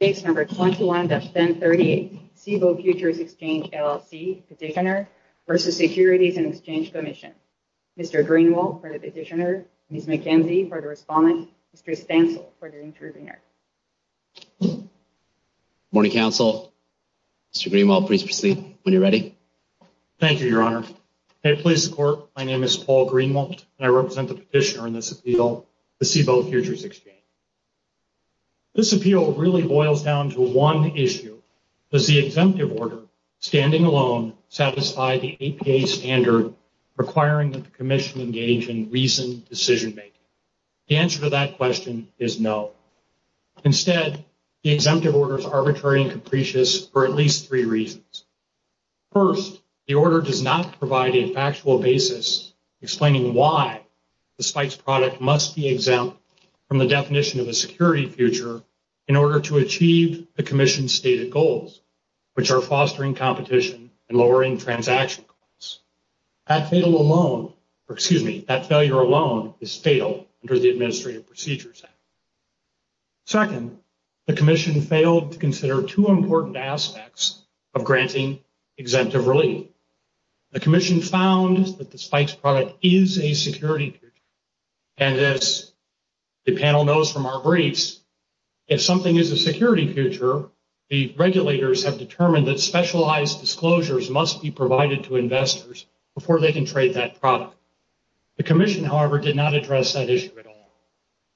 Page 21-1038 Cboe Futures Exchange, LLC Petitioner v. Securities and Exchange Commission Mr. Greenwalt for the Petitioner Ms. McKenzie for the Respondent Mr. Stansel for the Intervener Morning Council, Mr. Greenwalt, please proceed when you're ready. Thank you, Your Honor. May it please the Court, my name is Paul Greenwalt and I represent the Petitioner in this appeal, the Cboe Futures Exchange. This appeal really boils down to one issue, does the exemptive order, standing alone, satisfy the APA standard requiring that the Commission engage in reasoned decision-making? The answer to that question is no. Instead, the exemptive order is arbitrary and capricious for at least three reasons. First, the order does not provide a factual basis explaining why the SPICE product must be exempt from the definition of a security future in order to achieve the Commission's stated goals, which are fostering competition and lowering transaction costs. That failure alone is fatal under the Administrative Procedures Act. Second, the Commission failed to consider two important aspects of granting exemptive relief. The Commission found that the SPICE product is a security future, and as the panel knows from our briefs, if something is a security future, the regulators have determined that specialized disclosures must be provided to investors before they can trade that product. The Commission, however, did not address that issue at all.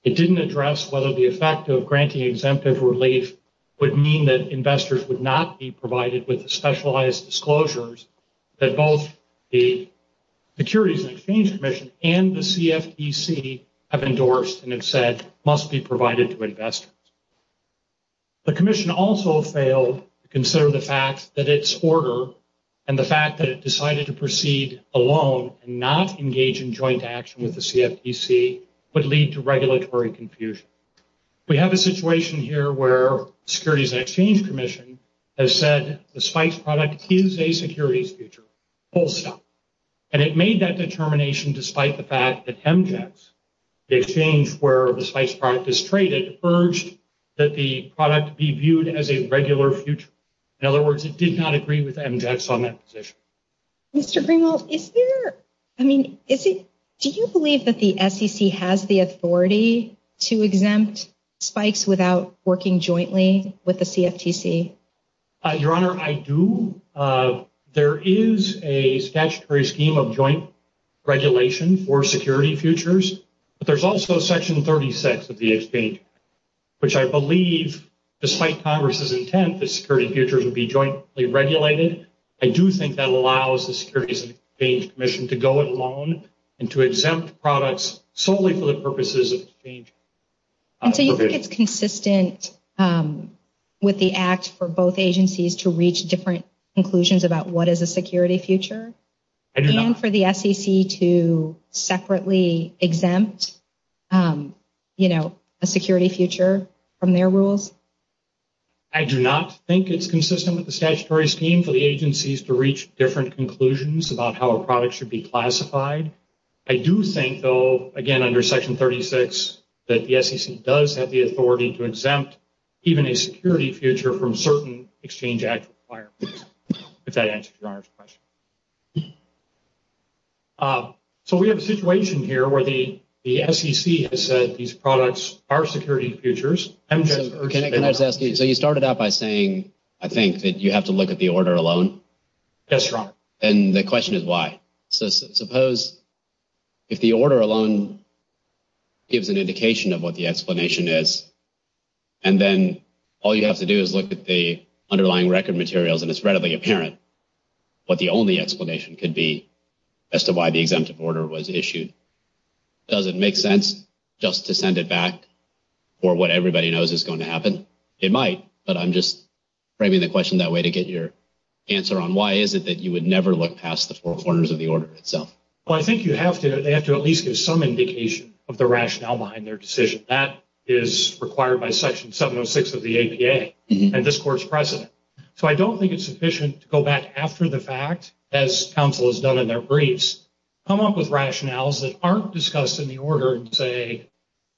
It didn't address whether the effect of granting exemptive relief would mean that investors would not be provided with specialized disclosures that both the Securities and Exchange Commission and the CFTC have endorsed and have said must be provided to investors. The Commission also failed to consider the fact that its order and the fact that it decided to proceed alone and not engage in joint action with the CFTC would lead to regulatory confusion. We have a situation here where the Securities and Exchange Commission has said the SPICE product is a securities future, full stop. And it made that determination despite the fact that MJETS, the exchange where the SPICE product is traded, urged that the product be viewed as a regular future. In other words, it did not agree with MJETS on that position. Mr. Greenwald, is there, I mean, do you believe that the SEC has the authority to exempt SPICEs without working jointly with the CFTC? Your Honor, I do. There is a statutory scheme of joint regulation for security futures, but there's also section 36 of the exchange, which I believe, despite Congress's intent, the security futures would be jointly regulated. I do think that allows the Securities and Exchange Commission to go it alone and to exempt products solely for the purposes of exchange. And so you think it's consistent with the act for both agencies to reach different conclusions about what is a security future? I do not. And for the SEC to separately exempt, you know, a security future from their rules? I do not think it's consistent with the statutory scheme for the agencies to reach different conclusions about how a product should be classified. I do think, though, again, under section 36, that the SEC does have the authority to exempt even a security future from certain Exchange Act requirements, if that answers Your Honor's question. So we have a situation here where the SEC has said these products are security futures. Can I just ask you, so you started out by saying, I think, that you have to look at the order alone? Yes, Your Honor. And the question is why? So suppose if the order alone gives an indication of what the explanation is, and then all you have to do is look at the underlying record materials and it's readily apparent what the only explanation could be as to why the exemptive order was issued. Does it make sense just to send it back for what everybody knows is going to happen? It might. But I'm just framing the question that way to get your answer on why is it that you would never look past the four corners of the order itself? Well, I think you have to, they have to at least give some indication of the rationale behind their decision. That is required by section 706 of the APA and this court's precedent. So I don't think it's sufficient to go back after the fact, as counsel has done in their rationales that aren't discussed in the order and say,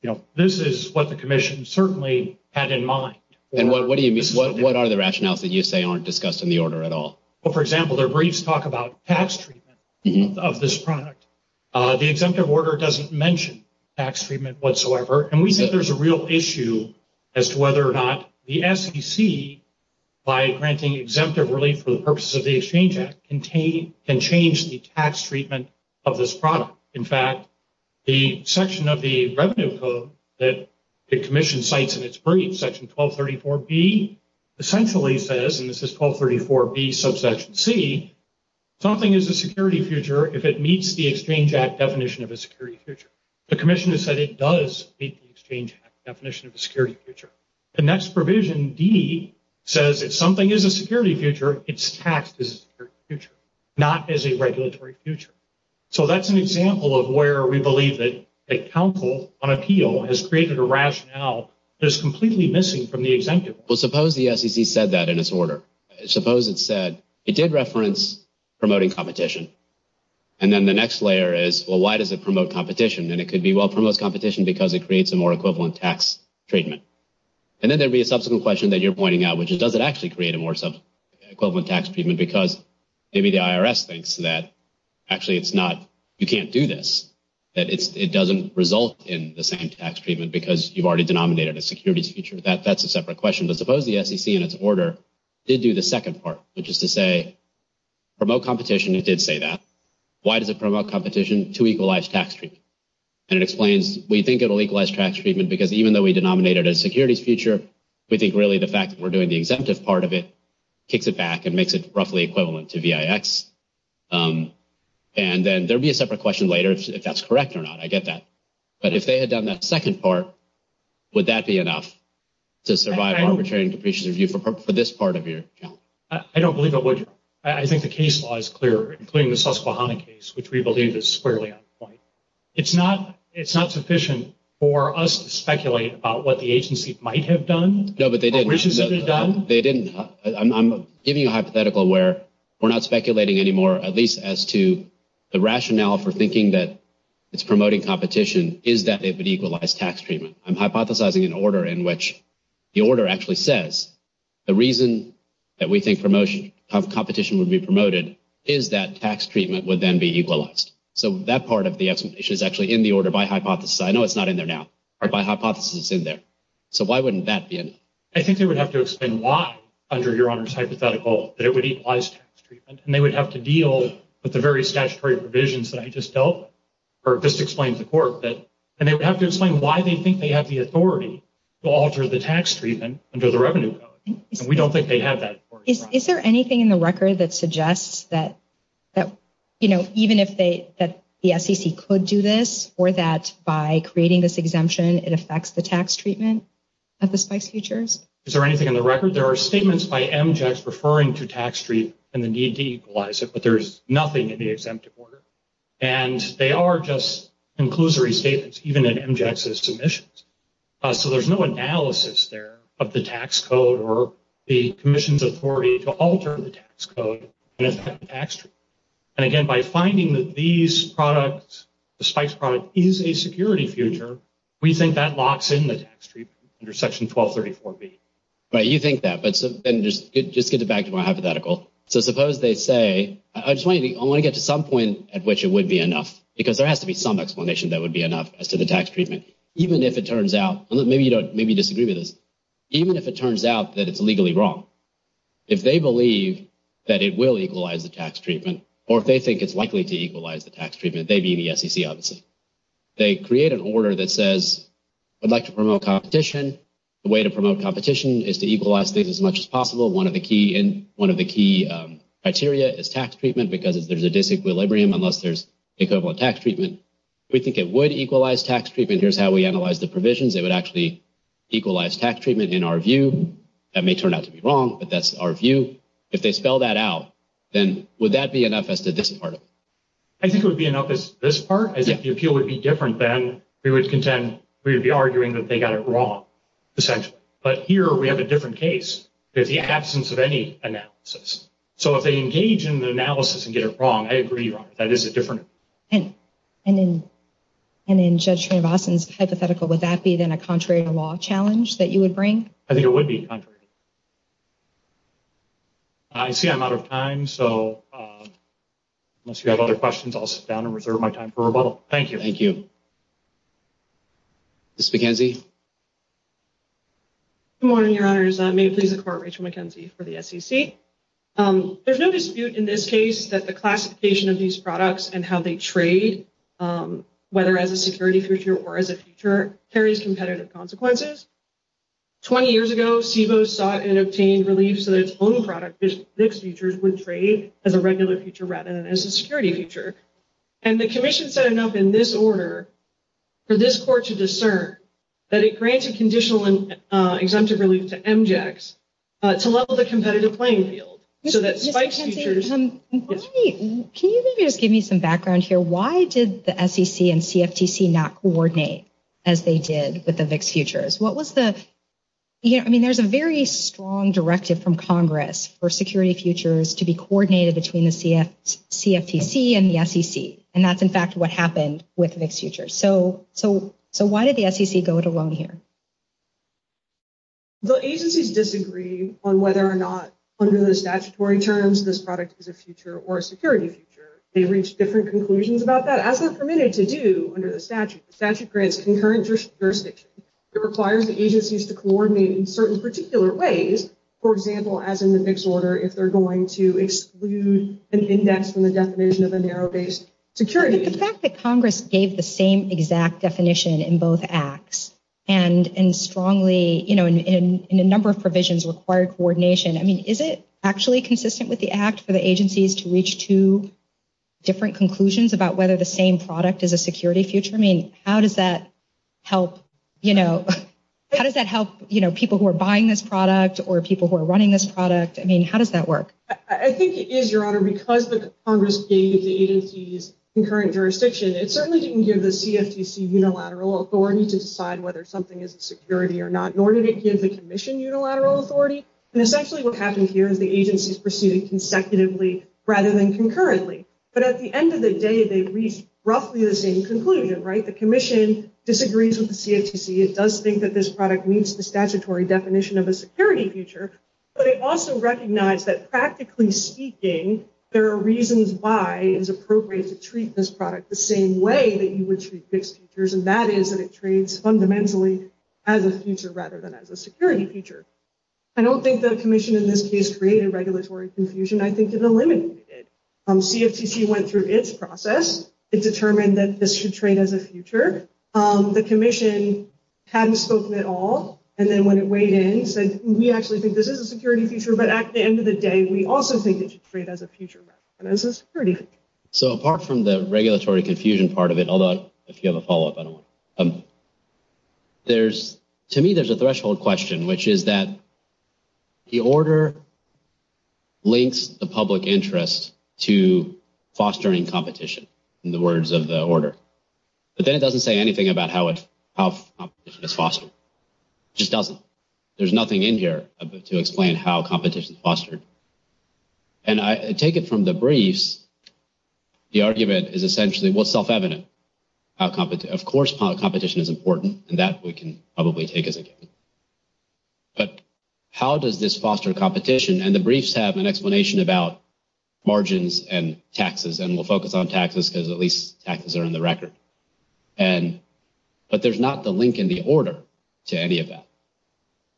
you know, this is what the commission certainly had in mind. And what do you mean? What are the rationales that you say aren't discussed in the order at all? Well, for example, their briefs talk about tax treatment of this product. The exemptive order doesn't mention tax treatment whatsoever. And we think there's a real issue as to whether or not the SEC, by granting exemptive relief for the purposes of the Exchange Act, can change the tax treatment of this product. In fact, the section of the revenue code that the commission cites in its brief, section 1234B, essentially says, and this is 1234B subsection C, something is a security future if it meets the Exchange Act definition of a security future. The commission has said it does meet the Exchange Act definition of a security future. The next provision, D, says if something is a security future, it's taxed as a security future, not as a regulatory future. So that's an example of where we believe that counsel on appeal has created a rationale that is completely missing from the exemptive order. Well, suppose the SEC said that in its order. Suppose it said it did reference promoting competition. And then the next layer is, well, why does it promote competition? And it could be, well, it promotes competition because it creates a more equivalent tax treatment. And then there'd be a subsequent question that you're pointing out, which is, does it actually create a more equivalent tax treatment? Because maybe the IRS thinks that actually it's not, you can't do this, that it doesn't result in the same tax treatment because you've already denominated a securities future. That's a separate question. But suppose the SEC, in its order, did do the second part, which is to say, promote competition, it did say that. Why does it promote competition to equalize tax treatment? And it explains, we think it'll equalize tax treatment because even though we denominated a securities future, we think really the fact that we're doing the exemptive part of it kicks it back and makes it roughly equivalent to VIX. And then there'll be a separate question later if that's correct or not, I get that. But if they had done that second part, would that be enough to survive arbitrary and capricious review for this part of your account? I don't believe it would. I think the case law is clear, including the Susquehanna case, which we believe is squarely on point. It's not sufficient for us to speculate about what the agency might have done, or wishes it had done. No, but they didn't. I'm giving you a hypothetical where we're not speculating anymore, at least as to the rationale for thinking that it's promoting competition is that it would equalize tax treatment. I'm hypothesizing an order in which the order actually says the reason that we think promotion of competition would be promoted is that tax treatment would then be equalized. So that part of the explanation is actually in the order by hypothesis. I know it's not in there now, but by hypothesis it's in there. So why wouldn't that be enough? I think they would have to explain why, under Your Honor's hypothetical, that it would equalize tax treatment. And they would have to deal with the various statutory provisions that I just dealt with, or just explained to the court. And they would have to explain why they think they have the authority to alter the tax treatment under the Revenue Code. And we don't think they have that authority. Is there anything in the record that suggests that, you know, even if the SEC could do this, or that by creating this exemption it affects the tax treatment at the Spice Futures? Is there anything in the record? There are statements by MJECs referring to tax treatment and the need to equalize it, but there's nothing in the exemptive order. And they are just inclusory statements, even in MJECs' submissions. So there's no analysis there of the tax code or the Commission's authority to alter the tax code and affect the tax treatment. And again, by finding that these products, the Spice product, is a security future, we think that locks in the tax treatment under Section 1234B. Right, you think that, but just get it back to my hypothetical. So suppose they say, I just want to get to some point at which it would be enough, because there has to be some explanation that it would be enough as to the tax treatment, even if it turns out, maybe you disagree with this, even if it turns out that it's legally wrong, if they believe that it will equalize the tax treatment, or if they think it's likely to equalize the tax treatment, they'd be in the SEC, obviously. They create an order that says, I'd like to promote competition, the way to promote competition is to equalize things as much as possible. One of the key criteria is tax treatment, because there's a disequilibrium unless there's equivalent tax treatment. We think it would equalize tax treatment, here's how we analyze the provisions, it would actually equalize tax treatment in our view, that may turn out to be wrong, but that's our view. If they spell that out, then would that be enough as to this part of it? I think it would be enough as to this part, as if the appeal would be different, then we would contend, we would be arguing that they got it wrong, essentially. But here we have a different case, there's the absence of any analysis. So if they engage in the analysis and get it wrong, I agree, Robert, that is a different opinion. And in Judge Srinivasan's hypothetical, would that be then a contrary to law challenge that you would bring? I think it would be contrary. I see I'm out of time, so unless you have other questions, I'll sit down and reserve my time for rebuttal. Thank you. Thank you. Ms. McKenzie? Good morning, Your Honors. May it please the Court, Rachel McKenzie for the SEC. There's no dispute in this case that the classification of these products and how they trade, whether as a security feature or as a feature, carries competitive consequences. Twenty years ago, CBOE sought and obtained relief so that its own product, FIX Features, would trade as a regular feature rather than as a security feature. And the Commission set it up in this order for this Court to discern that it granted conditional and exemptive relief to MJACs to level the competitive playing field so that FIX Features... Ms. McKenzie, can you maybe just give me some background here? Why did the SEC and CFTC not coordinate as they did with the FIX Futures? What was the... I mean, there's a very strong directive from Congress for security features to be coordinated between the CFTC and the SEC, and that's in fact what happened with FIX Futures. So why did the SEC go it alone here? The agencies disagree on whether or not, under the statutory terms, this product is a feature or a security feature. They reached different conclusions about that. As they're permitted to do under the statute, the statute grants concurrent jurisdiction. It requires the agencies to coordinate in certain particular ways, for example, as in the FIX Order, if they're going to exclude an index from the definition of a narrow-based security... But the fact that Congress gave the same exact definition in both acts and strongly, in a number of provisions, required coordination, I mean, is it actually consistent with the act for the agencies to reach two different conclusions about whether the same product is a security feature? I mean, how does that help people who are buying this product or people who are running this product? I mean, how does that work? I think it is, Your Honor, because the Congress gave the agencies concurrent jurisdiction, it certainly didn't give the CFTC unilateral authority to decide whether something is a security or not, nor did it give the Commission unilateral authority. And essentially what happened here is the agencies pursued it consecutively rather than concurrently. But at the end of the day, they reached roughly the same conclusion, right? The Commission disagrees with the CFTC. It does think that this product meets the statutory definition of a security feature, but it also recognized that practically speaking, there are reasons why it is appropriate to treat this product the same way that you would treat fixed features, and that is that it trades fundamentally as a feature rather than as a security feature. I don't think the Commission in this case created regulatory confusion. I think it eliminated it. CFTC went through its process. It determined that this should trade as a feature. The Commission hadn't spoken at all, and then when it weighed in, said, we actually think that this is a security feature, but at the end of the day, we also think it should trade as a feature rather than as a security feature. So apart from the regulatory confusion part of it, although if you have a follow-up, I don't want to. To me, there's a threshold question, which is that the order links the public interest to fostering competition, in the words of the order, but then it doesn't say anything about how competition is fostered. It just doesn't. There's nothing in here to explain how competition is fostered. And I take it from the briefs, the argument is essentially, well, it's self-evident. Of course competition is important, and that we can probably take as a given, but how does this foster competition? And the briefs have an explanation about margins and taxes, and we'll focus on taxes because at least taxes are in the record. But there's not the link in the order to any of that.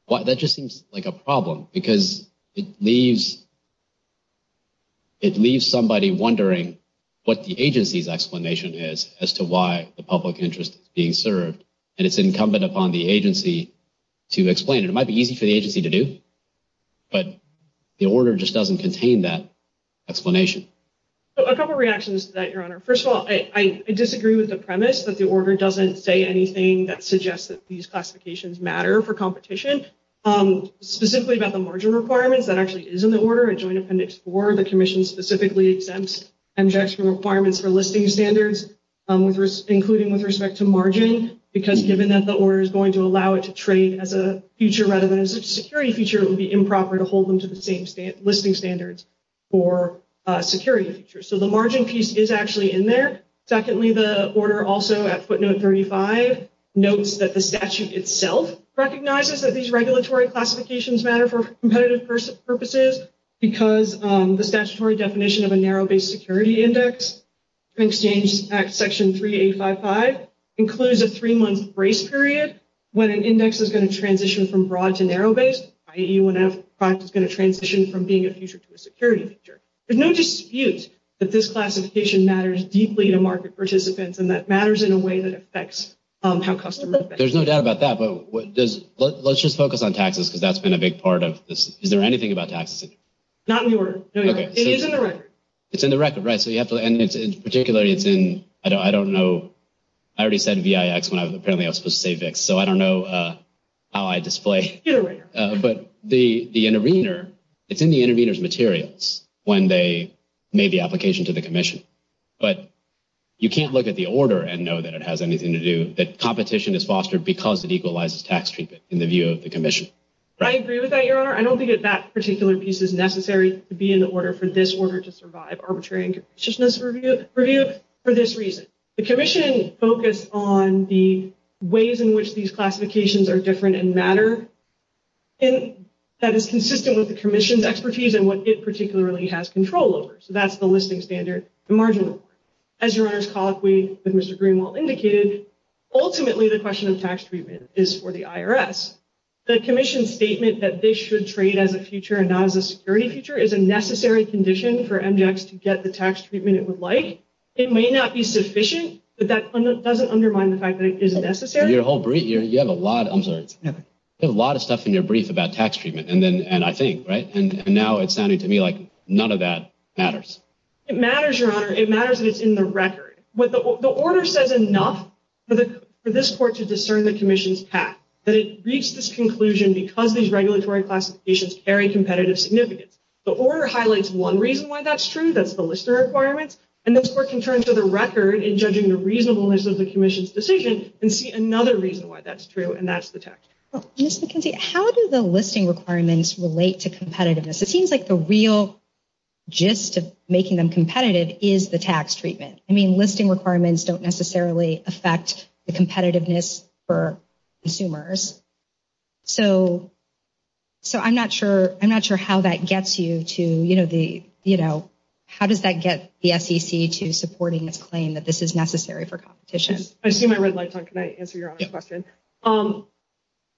That just seems like a problem because it leaves somebody wondering what the agency's explanation is as to why the public interest is being served, and it's incumbent upon the agency to explain it. It might be easy for the agency to do, but the order just doesn't contain that explanation. A couple of reactions to that, Your Honor. First of all, I disagree with the premise that the order doesn't say anything that suggests that these classifications matter for competition. Specifically about the margin requirements, that actually is in the order. In Joint Appendix 4, the Commission specifically exempts MJECs from requirements for listing standards, including with respect to margin, because given that the order is going to allow it to trade as a future rather than as a security feature, it would be improper to hold them to the same listing standards for security features. So the margin piece is actually in there. Secondly, the order also at footnote 35 notes that the statute itself recognizes that these regulatory classifications matter for competitive purposes because the statutory definition of a narrow-based security index in Exchange Act Section 3855 includes a three-month brace period when an index is going to transition from broad to narrow-based, i.e., when a product is going to transition from being a future to a security feature. There's no dispute that this classification matters deeply to market participants and that matters in a way that affects how customers think. There's no doubt about that, but let's just focus on taxes because that's been a big part of this. Is there anything about taxes? Not in the order. It is in the record. It's in the record, right. So you have to, and particularly it's in, I don't know, I already said VIX when apparently I was supposed to say VIX, so I don't know how I display it, but it's in the intervener's record when they made the application to the Commission. But you can't look at the order and know that it has anything to do, that competition is fostered because it equalizes tax treatment in the view of the Commission. I agree with that, Your Honor. I don't think that that particular piece is necessary to be in the order for this order to survive arbitrariness review for this reason. The Commission focused on the ways in which these classifications are different and matter and that is consistent with the Commission's expertise and what it particularly has control over. So that's the listing standard and marginal. As Your Honor's colleague with Mr. Greenwald indicated, ultimately the question of tax treatment is for the IRS. The Commission's statement that they should trade as a future and not as a security future is a necessary condition for MGEX to get the tax treatment it would like. It may not be sufficient, but that doesn't undermine the fact that it is necessary. You have a lot of stuff in your brief about tax treatment and I think, right, and now it's sounding to me like none of that matters. It matters, Your Honor. It matters that it's in the record. The order says enough for this Court to discern the Commission's path, that it reached this conclusion because these regulatory classifications carry competitive significance. The order highlights one reason why that's true, that's the listener requirements, and this Court can turn to the record in judging the reasonableness of the Commission's decision and see another reason why that's true, and that's the tax treatment. Ms. McKenzie, how do the listing requirements relate to competitiveness? It seems like the real gist of making them competitive is the tax treatment. I mean, listing requirements don't necessarily affect the competitiveness for consumers. So I'm not sure how that gets you to, you know, how does that get the SEC to supporting its claim that this is necessary for competition? I see my red lights on. Can I answer your question? Yes.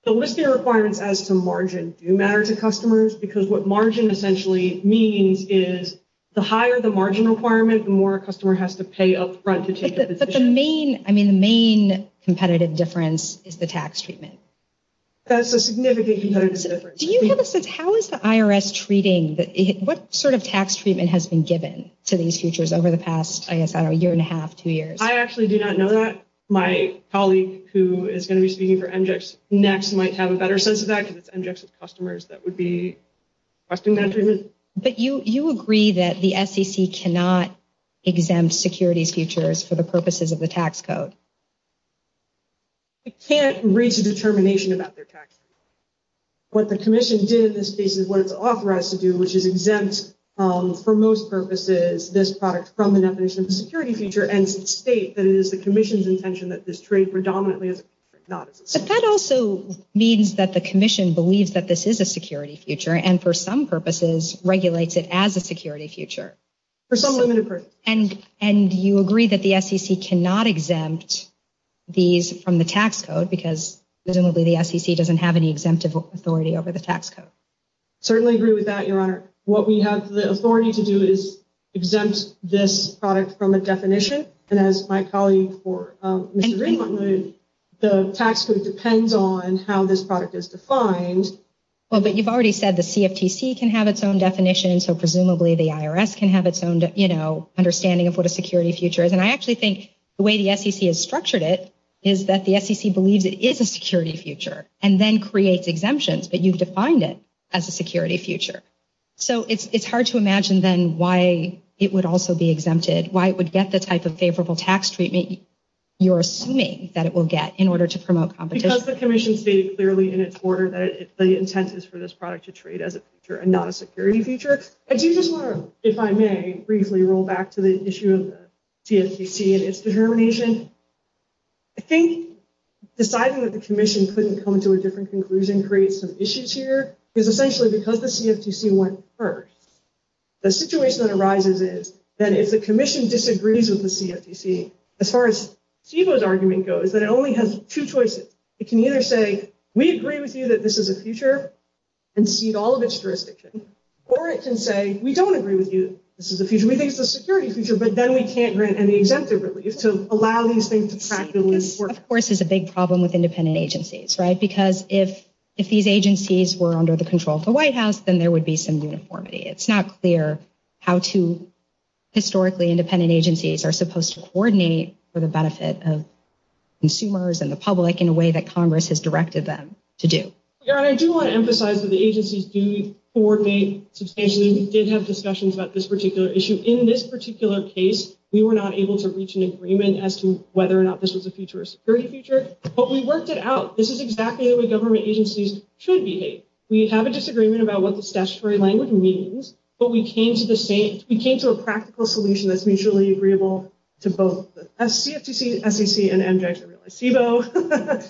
The listing requirements as to margin do matter to customers because what margin essentially means is the higher the margin requirement, the more a customer has to pay up front to take a position. But the main, I mean, the main competitive difference is the tax treatment. That's a significant competitive difference. Do you have a sense, how is the IRS treating, what sort of tax treatment has been given to these futures over the past, I guess, I don't know, year and a half, two years? I actually do not know that. My colleague who is going to be speaking for MGEX next might have a better sense of that because it's MGEX with customers that would be requesting that treatment. But you agree that the SEC cannot exempt securities futures for the purposes of the tax code? It can't reach a determination about their tax code. What the commission did in this case is what it's authorized to do, which is exempt for most purposes, this product from the definition of a security future and state that it is the commission's intention that this trade predominantly is not. But that also means that the commission believes that this is a security future and for some purposes regulates it as a security future. For some limited purposes. And you agree that the SEC cannot exempt these from the tax code because presumably the SEC doesn't have any exemptive authority over the tax code? Certainly agree with that, Your Honor. What we have the authority to do is exempt this product from a definition. And as my colleague for Mr. Greenwood, the tax code depends on how this product is defined. Well, but you've already said the CFTC can have its own definition. So presumably the IRS can have its own, you know, understanding of what a security future is. And I actually think the way the SEC has structured it is that the SEC believes it is a security future and then creates exemptions. But you've defined it as a security future. So it's hard to imagine then why it would also be exempted, why it would get the type of favorable tax treatment you're assuming that it will get in order to promote competition. Because the commission stated clearly in its order that the intent is for this product to trade as a security future and not a security future. I do just want to, if I may, briefly roll back to the issue of the CFTC and its determination. I think deciding that the commission couldn't come to a different conclusion creates some confusion. I think the CFTC went first. The situation that arises is that if the commission disagrees with the CFTC, as far as Steve-O's argument goes, that it only has two choices. It can either say, we agree with you that this is a future and cede all of its jurisdiction. Or it can say, we don't agree with you, this is a future. We think it's a security future, but then we can't grant any exemptive relief to allow these things to practically work. Of course, it's a big problem with independent agencies, right? Because if these agencies were under the control of the White House, then there would be some uniformity. It's not clear how two historically independent agencies are supposed to coordinate for the benefit of consumers and the public in a way that Congress has directed them to do. Your Honor, I do want to emphasize that the agencies do coordinate substantially. We did have discussions about this particular issue. In this particular case, we were not able to reach an agreement as to whether or not this was a future or a security future. But we worked it out. This is exactly the way government agencies should behave. We have a disagreement about what the statutory language means, but we came to a practical solution that's mutually agreeable to both the CFTC, SEC, and MJIC. CBO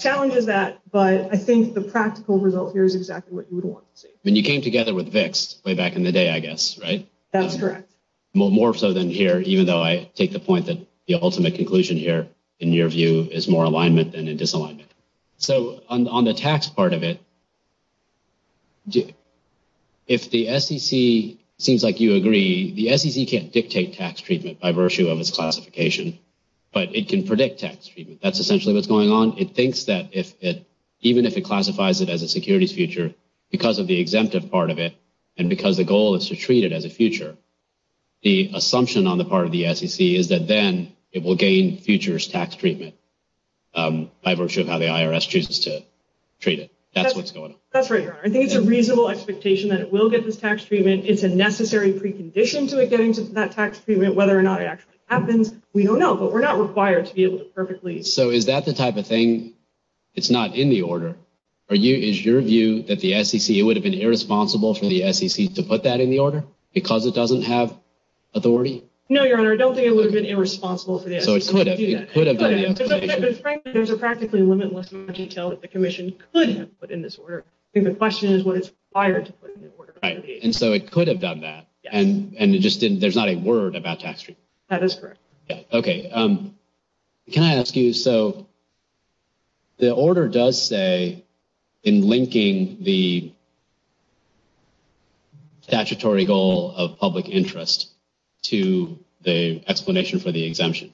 challenges that, but I think the practical result here is exactly what you would want to see. And you came together with VIX way back in the day, I guess, right? That's correct. More so than here, even though I take the point that the ultimate conclusion here, in your view, is more alignment than in disalignment. So on the tax part of it, if the SEC seems like you agree, the SEC can't dictate tax treatment by virtue of its classification, but it can predict tax treatment. That's essentially what's going on. It thinks that even if it classifies it as a securities future because of the exemptive part of it and because the goal is to treat it as a future, the assumption on the part of the SEC is that then it will gain futures tax treatment by virtue of how the IRS chooses to treat it. That's what's going on. That's right, Your Honor. I think it's a reasonable expectation that it will get this tax treatment. It's a necessary precondition to it getting that tax treatment. Whether or not it actually happens, we don't know, but we're not required to be able to perfectly... So is that the type of thing, it's not in the order? Is your view that the SEC, it would have been irresponsible for the SEC to put that in the order because it doesn't have authority? No, Your Honor. I don't think it would have been irresponsible for the SEC to do that. So it could have. It could have. Frankly, there's a practically limitless amount of detail that the commission could have put in this order. I think the question is what it's required to put in the order. Right. And so it could have done that. Yes. And it just didn't, there's not a word about tax treatment. That is correct. Yeah. Okay. Can I ask you, so the order does say in linking the statutory goal of public interest to the explanation for the exemption,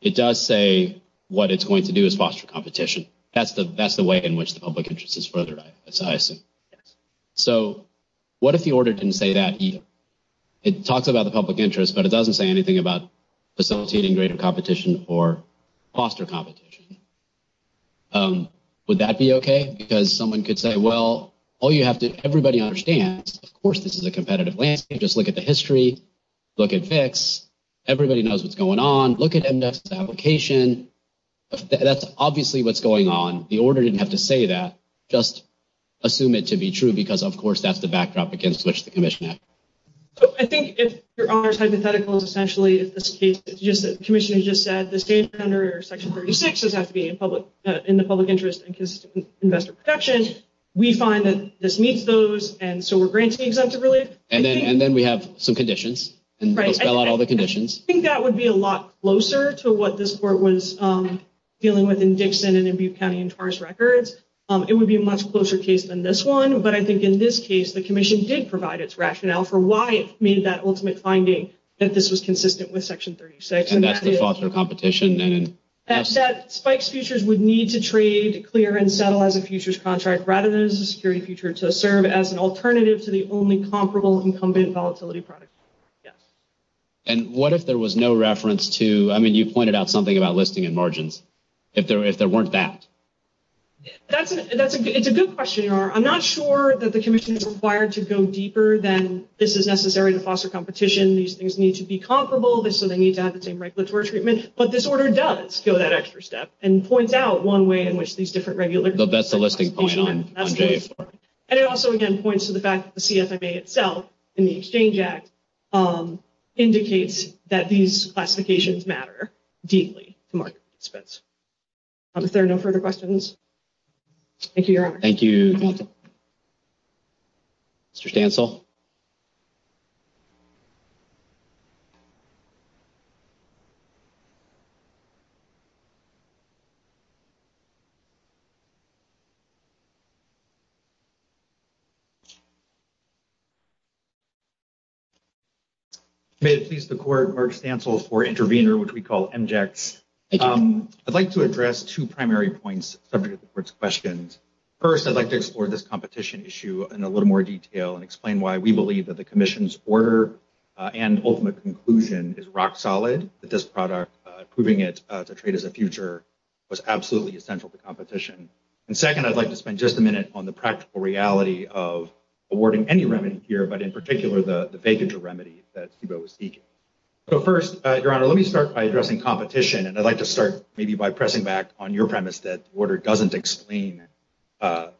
it does say what it's going to do is foster competition. That's the way in which the public interest is furthered, I assume. Yes. So what if the order didn't say that either? It talks about the public interest, but it doesn't say anything about facilitating greater competition or foster competition. Would that be okay? Because someone could say, well, all you have to, everybody understands, of course, this is a competitive landscape. Just look at the history. Look at FICS. Everybody knows what's going on. Look at MDOT's application. That's obviously what's going on. The order didn't have to say that. Just assume it to be true because, of course, that's the backdrop against which the commission acted. So I think if your honor's hypothetical is essentially if this case, the commissioner just said the state under Section 36 does have to be in the public interest in case of investor protection. We find that this meets those, and so we're granting exemptive relief. And then we have some conditions. Right. Spell out all the conditions. I think that would be a lot closer to what this court was dealing with in Dixon and in Butte County and Taurus Records. It would be a much closer case than this one. But I think in this case, the commission did provide its rationale for why it made that ultimate finding that this was consistent with Section 36. And that's the foster competition. And that spikes futures would need to trade, clear, and settle as a futures contract rather than as a security future to serve as an alternative to the only comparable incumbent volatility product. Yes. And what if there was no reference to, I mean, you pointed out something about listing and margins. If there weren't that. It's a good question, Your Honor. I'm not sure that the commission is required to go deeper than this is necessary to foster competition. These things need to be comparable. So they need to have the same regulatory treatment. But this order does go that extra step and points out one way in which these different regular... That's the listing point. And it also, again, points to the fact that the CFMA itself in the Exchange Act indicates that these classifications matter deeply to market participants. If there are no further questions. Thank you, Your Honor. Thank you. Mr. Stancil. May it please the Court, Mark Stancil for intervener, which we call MJECs. Thank you. I'd like to address two primary points subject to the Court's questions. First, I'd like to explore this competition issue in a little more detail and explain why we believe that the commission's order and ultimate conclusion is rock solid, that this product, approving it to trade as a future, was absolutely essential to competition. And second, I'd like to spend just a minute on the practical reality of awarding any remedy here, but in particular, the vacancy remedy that Steve-O was seeking. So first, Your Honor, let me start by addressing competition. And I'd like to start maybe by pressing back on your premise that the order doesn't explain the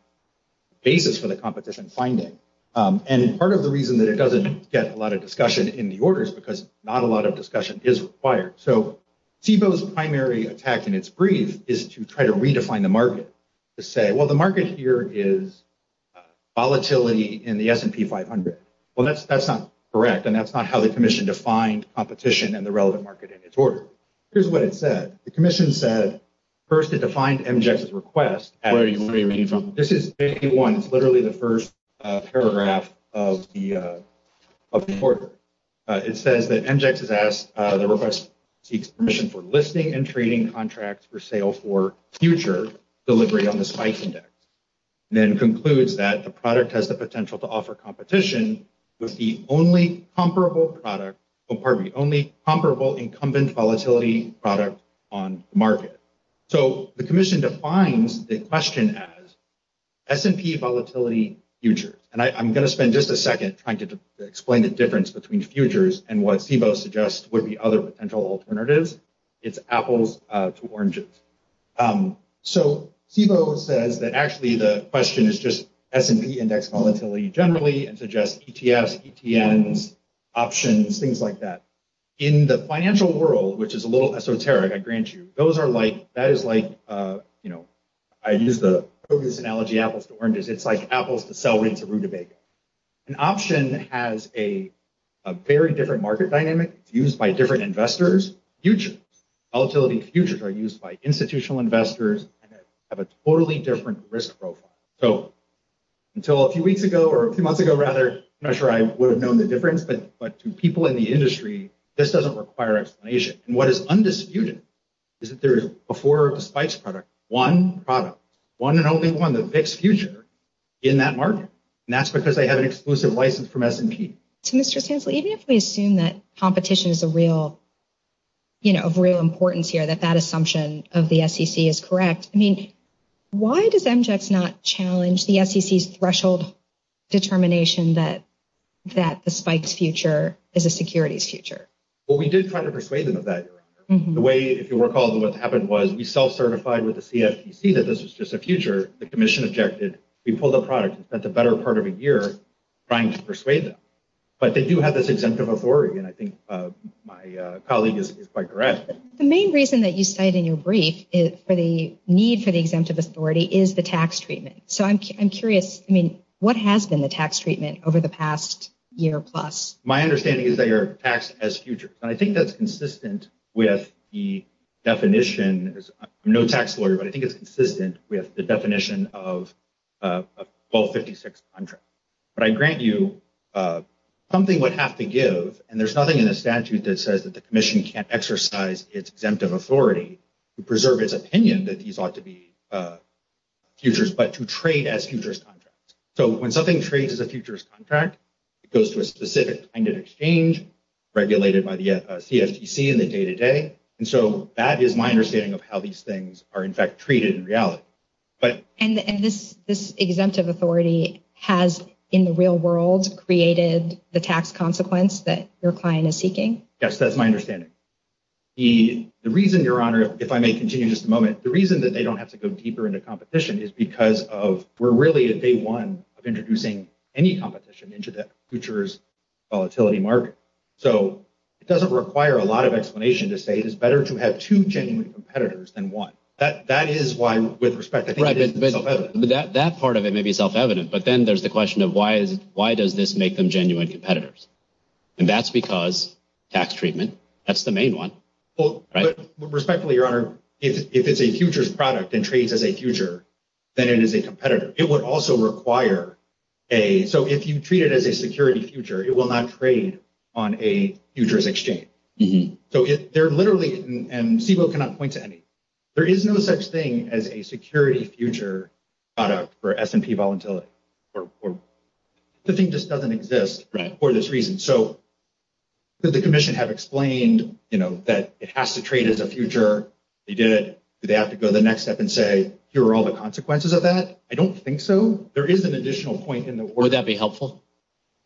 basis for the competition finding. And part of the reason that it doesn't get a lot of discussion in the order is because not a lot of discussion is required. So Steve-O's primary attack in its brief is to try to redefine the market, to say, well, the market here is volatility in the S&P 500. Well, that's not correct, and that's not how the commission defined competition and the relevant market in its order. Here's what it said. The commission said, first, it defined MJX's request. Where are you reading from? This is page one. It's literally the first paragraph of the order. It says that MJX has asked, the request seeks permission for listing and trading contracts for sale for future delivery on the SPICE index. And then concludes that the product has the potential to offer competition with the only comparable product, only comparable incumbent volatility product on the market. So the commission defines the question as S&P volatility futures. And I'm going to spend just a second trying to explain the difference between futures and what Steve-O suggests would be other potential alternatives. It's apples to oranges. So Steve-O says that actually the question is just S&P index volatility generally and suggests ETFs, ETNs, options, things like that. In the financial world, which is a little esoteric, I grant you, those are like, that is like, you know, I use the focus analogy apples to oranges. It's like apples to celery to rutabaga. An option has a very different market dynamic. It's used by different investors. Futures, volatility futures are used by institutional investors and have a totally different risk profile. So until a few weeks ago or a few months ago, rather, I'm not sure I would have known the difference. But to people in the industry, this doesn't require explanation. And what is undisputed is that there is before the SPICE product, one product, one and only one that picks future in that market. And that's because they have an exclusive license from S&P. So, Mr. Stansley, even if we assume that competition is a real, you know, of real importance here, that that assumption of the SEC is correct. I mean, why does MJX not challenge the SEC's threshold determination that that the SPICE future is a securities future? Well, we did try to persuade them of that. The way, if you recall, what happened was we self-certified with the CFTC that this was just a future. The commission objected. We pulled the product and spent the better part of a year trying to persuade them. But they do have this exemptive authority. And I think my colleague is quite correct. The main reason that you cite in your brief for the need for the exemptive authority is the tax treatment. So, I'm curious. I mean, what has been the tax treatment over the past year plus? My understanding is that you're taxed as future. And I think that's consistent with the definition. I'm no tax lawyer, but I think it's consistent with the definition of 1256 contract. But I grant you something would have to give, and there's nothing in the statute that says that the commission can't exercise its exemptive authority to preserve its opinion that these ought to be futures, but to trade as futures contracts. So, when something trades as a futures contract, it goes to a specific kind of exchange regulated by the CFTC in the day-to-day. And so, that is my understanding of how these things are, in fact, treated in reality. And this exemptive authority has, in the real world, created the tax consequence that your client is seeking? Yes, that's my understanding. The reason, Your Honor, if I may continue just a moment, the reason that they don't have to go deeper into competition is because of we're really at day one of introducing any competition into the futures volatility market. So, it doesn't require a lot of explanation to say it is better to have two genuine competitors than one. That is why, with respect, I think it is self-evident. Right, but that part of it may be self-evident. But then there's the question of why does this make them genuine competitors? And that's because tax treatment, that's the main one. Well, respectfully, Your Honor, if it's a futures product and trades as a future, then it is a competitor. It would also require a... So, if you treat it as a security future, it will not trade on a futures exchange. So, they're literally... And CBOE cannot point to any. There is no such thing as a security future product for S&P volatility. The thing just doesn't exist for this reason. So, did the commission have explained that it has to trade as a future? They did. Do they have to go the next step and say, here are all the consequences of that? I don't think so. There is an additional point in the... Would that be helpful?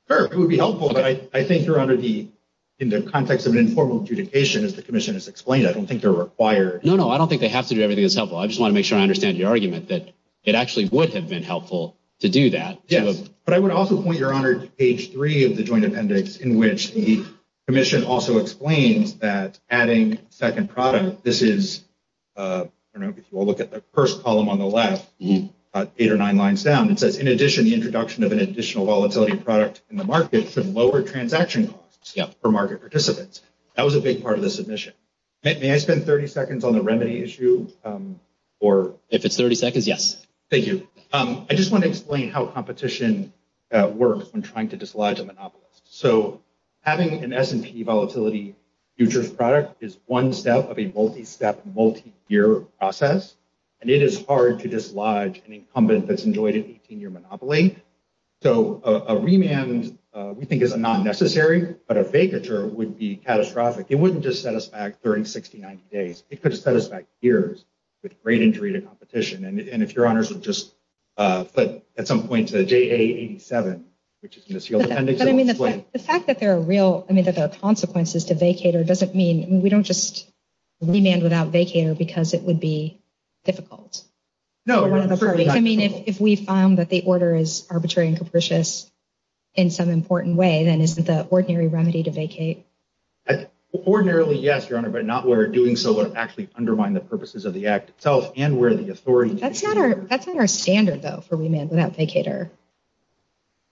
Sure, it would be helpful. But I think, Your Honor, in the context of an informal adjudication, as the commission has explained, I don't think they're required. No, no, I don't think they have to do everything that's helpful. I just want to make sure I understand your argument that it actually would have been helpful to do that. Yes. But I would also point, Your Honor, to page three of the joint appendix, in which the commission also explains that adding second product, this is... I don't know if you all look at the first column on the left, eight or nine lines down. It says, in addition, the introduction of an additional volatility product in the market should lower transaction costs for market participants. That was a big part of the submission. May I spend 30 seconds on the remedy issue? If it's 30 seconds, yes. Thank you. I just want to explain how competition works when trying to dislodge a monopolist. So having an S&P volatility futures product is one step of a multi-step, multi-year process, and it is hard to dislodge an incumbent that's enjoyed an 18-year monopoly. So a remand, we think, is not necessary, but a vacature would be catastrophic. It wouldn't just set us back 30, 60, 90 days. It could set us back years with great injury to competition. And if Your Honors would just flip at some point to JA 87, which is in the SEAL appendix. The fact that there are consequences to vacate doesn't mean we don't just remand without vacate because it would be difficult for one of the parties. If we found that the order is arbitrary and capricious in some important way, then isn't the ordinary remedy to vacate? Ordinarily, yes, Your Honor, but not where doing so would actually undermine the purposes of the act itself and where the authority to vacate. That's not our standard, though, for remand without vacater.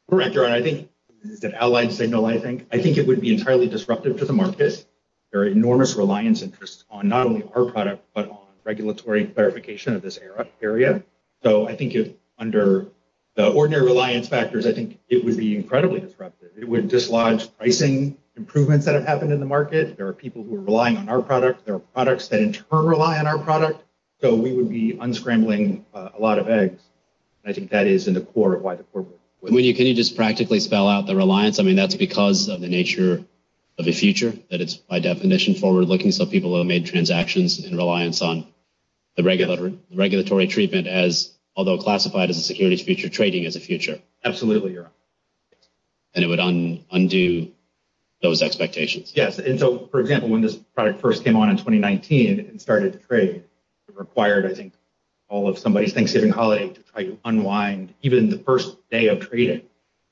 Correct, Your Honor. I think it would be entirely disruptive to the market. There are enormous reliance interests on not only our product, but on regulatory clarification of this area. So I think under the ordinary reliance factors, I think it would be incredibly disruptive. It would dislodge pricing improvements that have happened in the market. There are people who are relying on our product. There are products that, in turn, rely on our product. So we would be unscrambling a lot of eggs. I think that is in the core of why the court would win. Can you just practically spell out the reliance? I mean, that's because of the nature of the future, that it's, by definition, forward-looking so people have made transactions in reliance on the regulatory treatment as, although classified as a securities future, trading as a future. Absolutely, Your Honor. And it would undo those expectations. Yes. And so, for example, when this product first came on in 2019 and started to trade, it required, I think, all of somebody's Thanksgiving holiday to try to unwind even the first day of trading.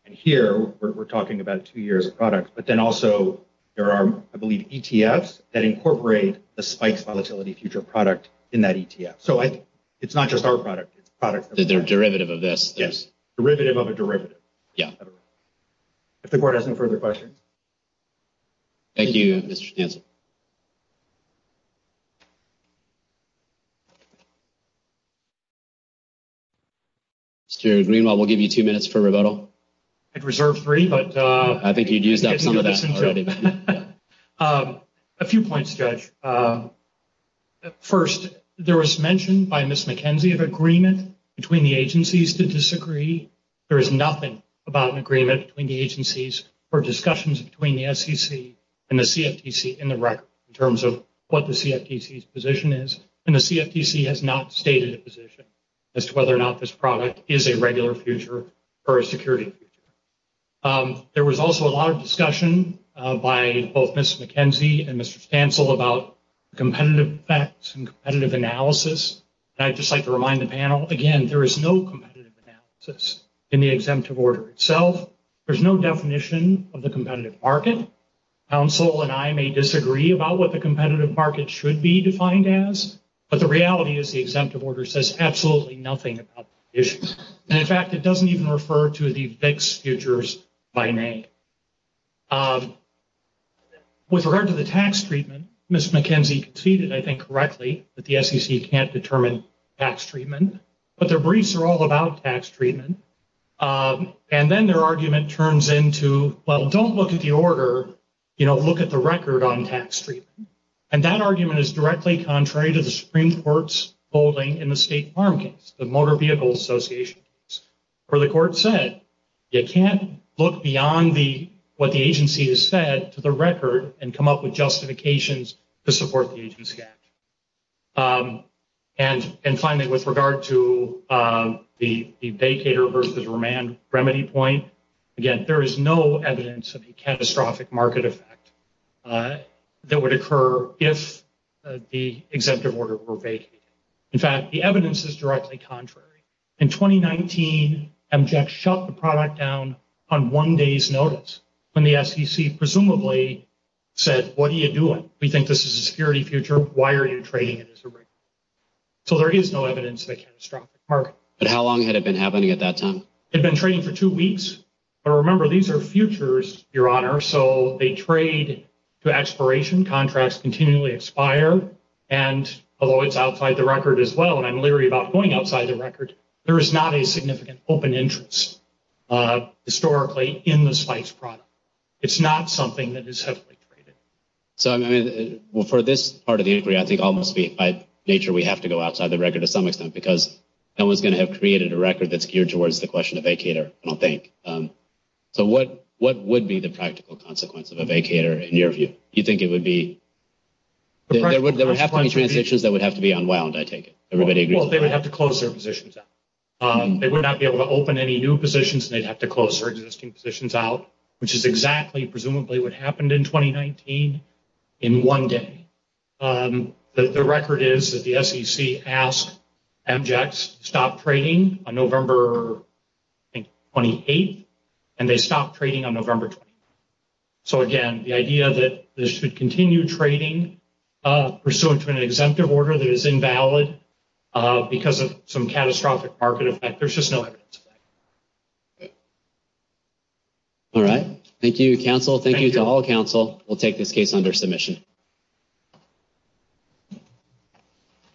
And here we're talking about two years of product. But then also there are, I believe, ETFs that incorporate the spike volatility future product in that ETF. So it's not just our product. It's products that are derivative of this. Yes. Derivative of a derivative. If the court has no further questions. Thank you, Mr. Stansel. Mr. Greenwald, we'll give you two minutes for rebuttal. I'd reserve three, but. I think you'd used up some of that already. A few points, Judge. First, there was mention by Ms. McKenzie of agreement between the agencies to disagree. There is nothing about an agreement between the agencies or discussions between the SEC and the CFTC in the record in terms of what the CFTC's position is. And the CFTC has not stated a position as to whether or not this product is a regular future or a security future. There was also a lot of discussion by both Ms. McKenzie and Mr. Stansel about competitive facts and competitive analysis. And I'd just like to remind the panel, again, there is no competitive analysis in the exemptive order itself. There's no definition of the competitive market. Counsel and I may disagree about what the competitive market should be defined as, but the reality is the exemptive order says absolutely nothing about that issue. And, in fact, it doesn't even refer to the VIX futures by name. With regard to the tax treatment, Ms. McKenzie conceded, I think, correctly that the SEC can't determine tax treatment. But their briefs are all about tax treatment. And then their argument turns into, well, don't look at the order, you know, look at the record on tax treatment. And that argument is directly contrary to the Supreme Court's holding in the state farm case, the Motor Vehicle Association case, where the court said you can't look beyond what the agency has said to the record and come up with justifications to support the agency action. And finally, with regard to the vacater versus remand remedy point, again, there is no evidence of a catastrophic market effect that would occur if the exemptive order were vacated. In fact, the evidence is directly contrary. In 2019, MJEC shut the product down on one day's notice when the SEC presumably said, what are you doing? We think this is a security future. Why are you trading it as a remand? So there is no evidence of a catastrophic market. But how long had it been happening at that time? It had been trading for two weeks. But remember, these are futures, Your Honor, so they trade to expiration. Contracts continually expire. And although it's outside the record as well, and I'm leery about going outside the record, there is not a significant open interest historically in the SPICE product. It's not something that is heavily traded. So for this part of the inquiry, I think almost by nature we have to go outside the record to some extent because no one's going to have created a record that's geared towards the question of vacater, I don't think. So what would be the practical consequence of a vacater in your view? You think it would be – there would have to be transitions that would have to be unwound, I take it. Everybody agrees on that. Well, they would have to close their positions out. They would not be able to open any new positions, and they'd have to close their existing positions out, which is exactly presumably what happened in 2019 in one day. The record is that the SEC asked Amjects to stop trading on November, I think, 28th, and they stopped trading on November 20th. So, again, the idea that they should continue trading pursuant to an exemptive order that is invalid because of some catastrophic market effect, there's just no evidence of that. All right. Thank you, counsel. Thank you to all counsel. We'll take this case under submission.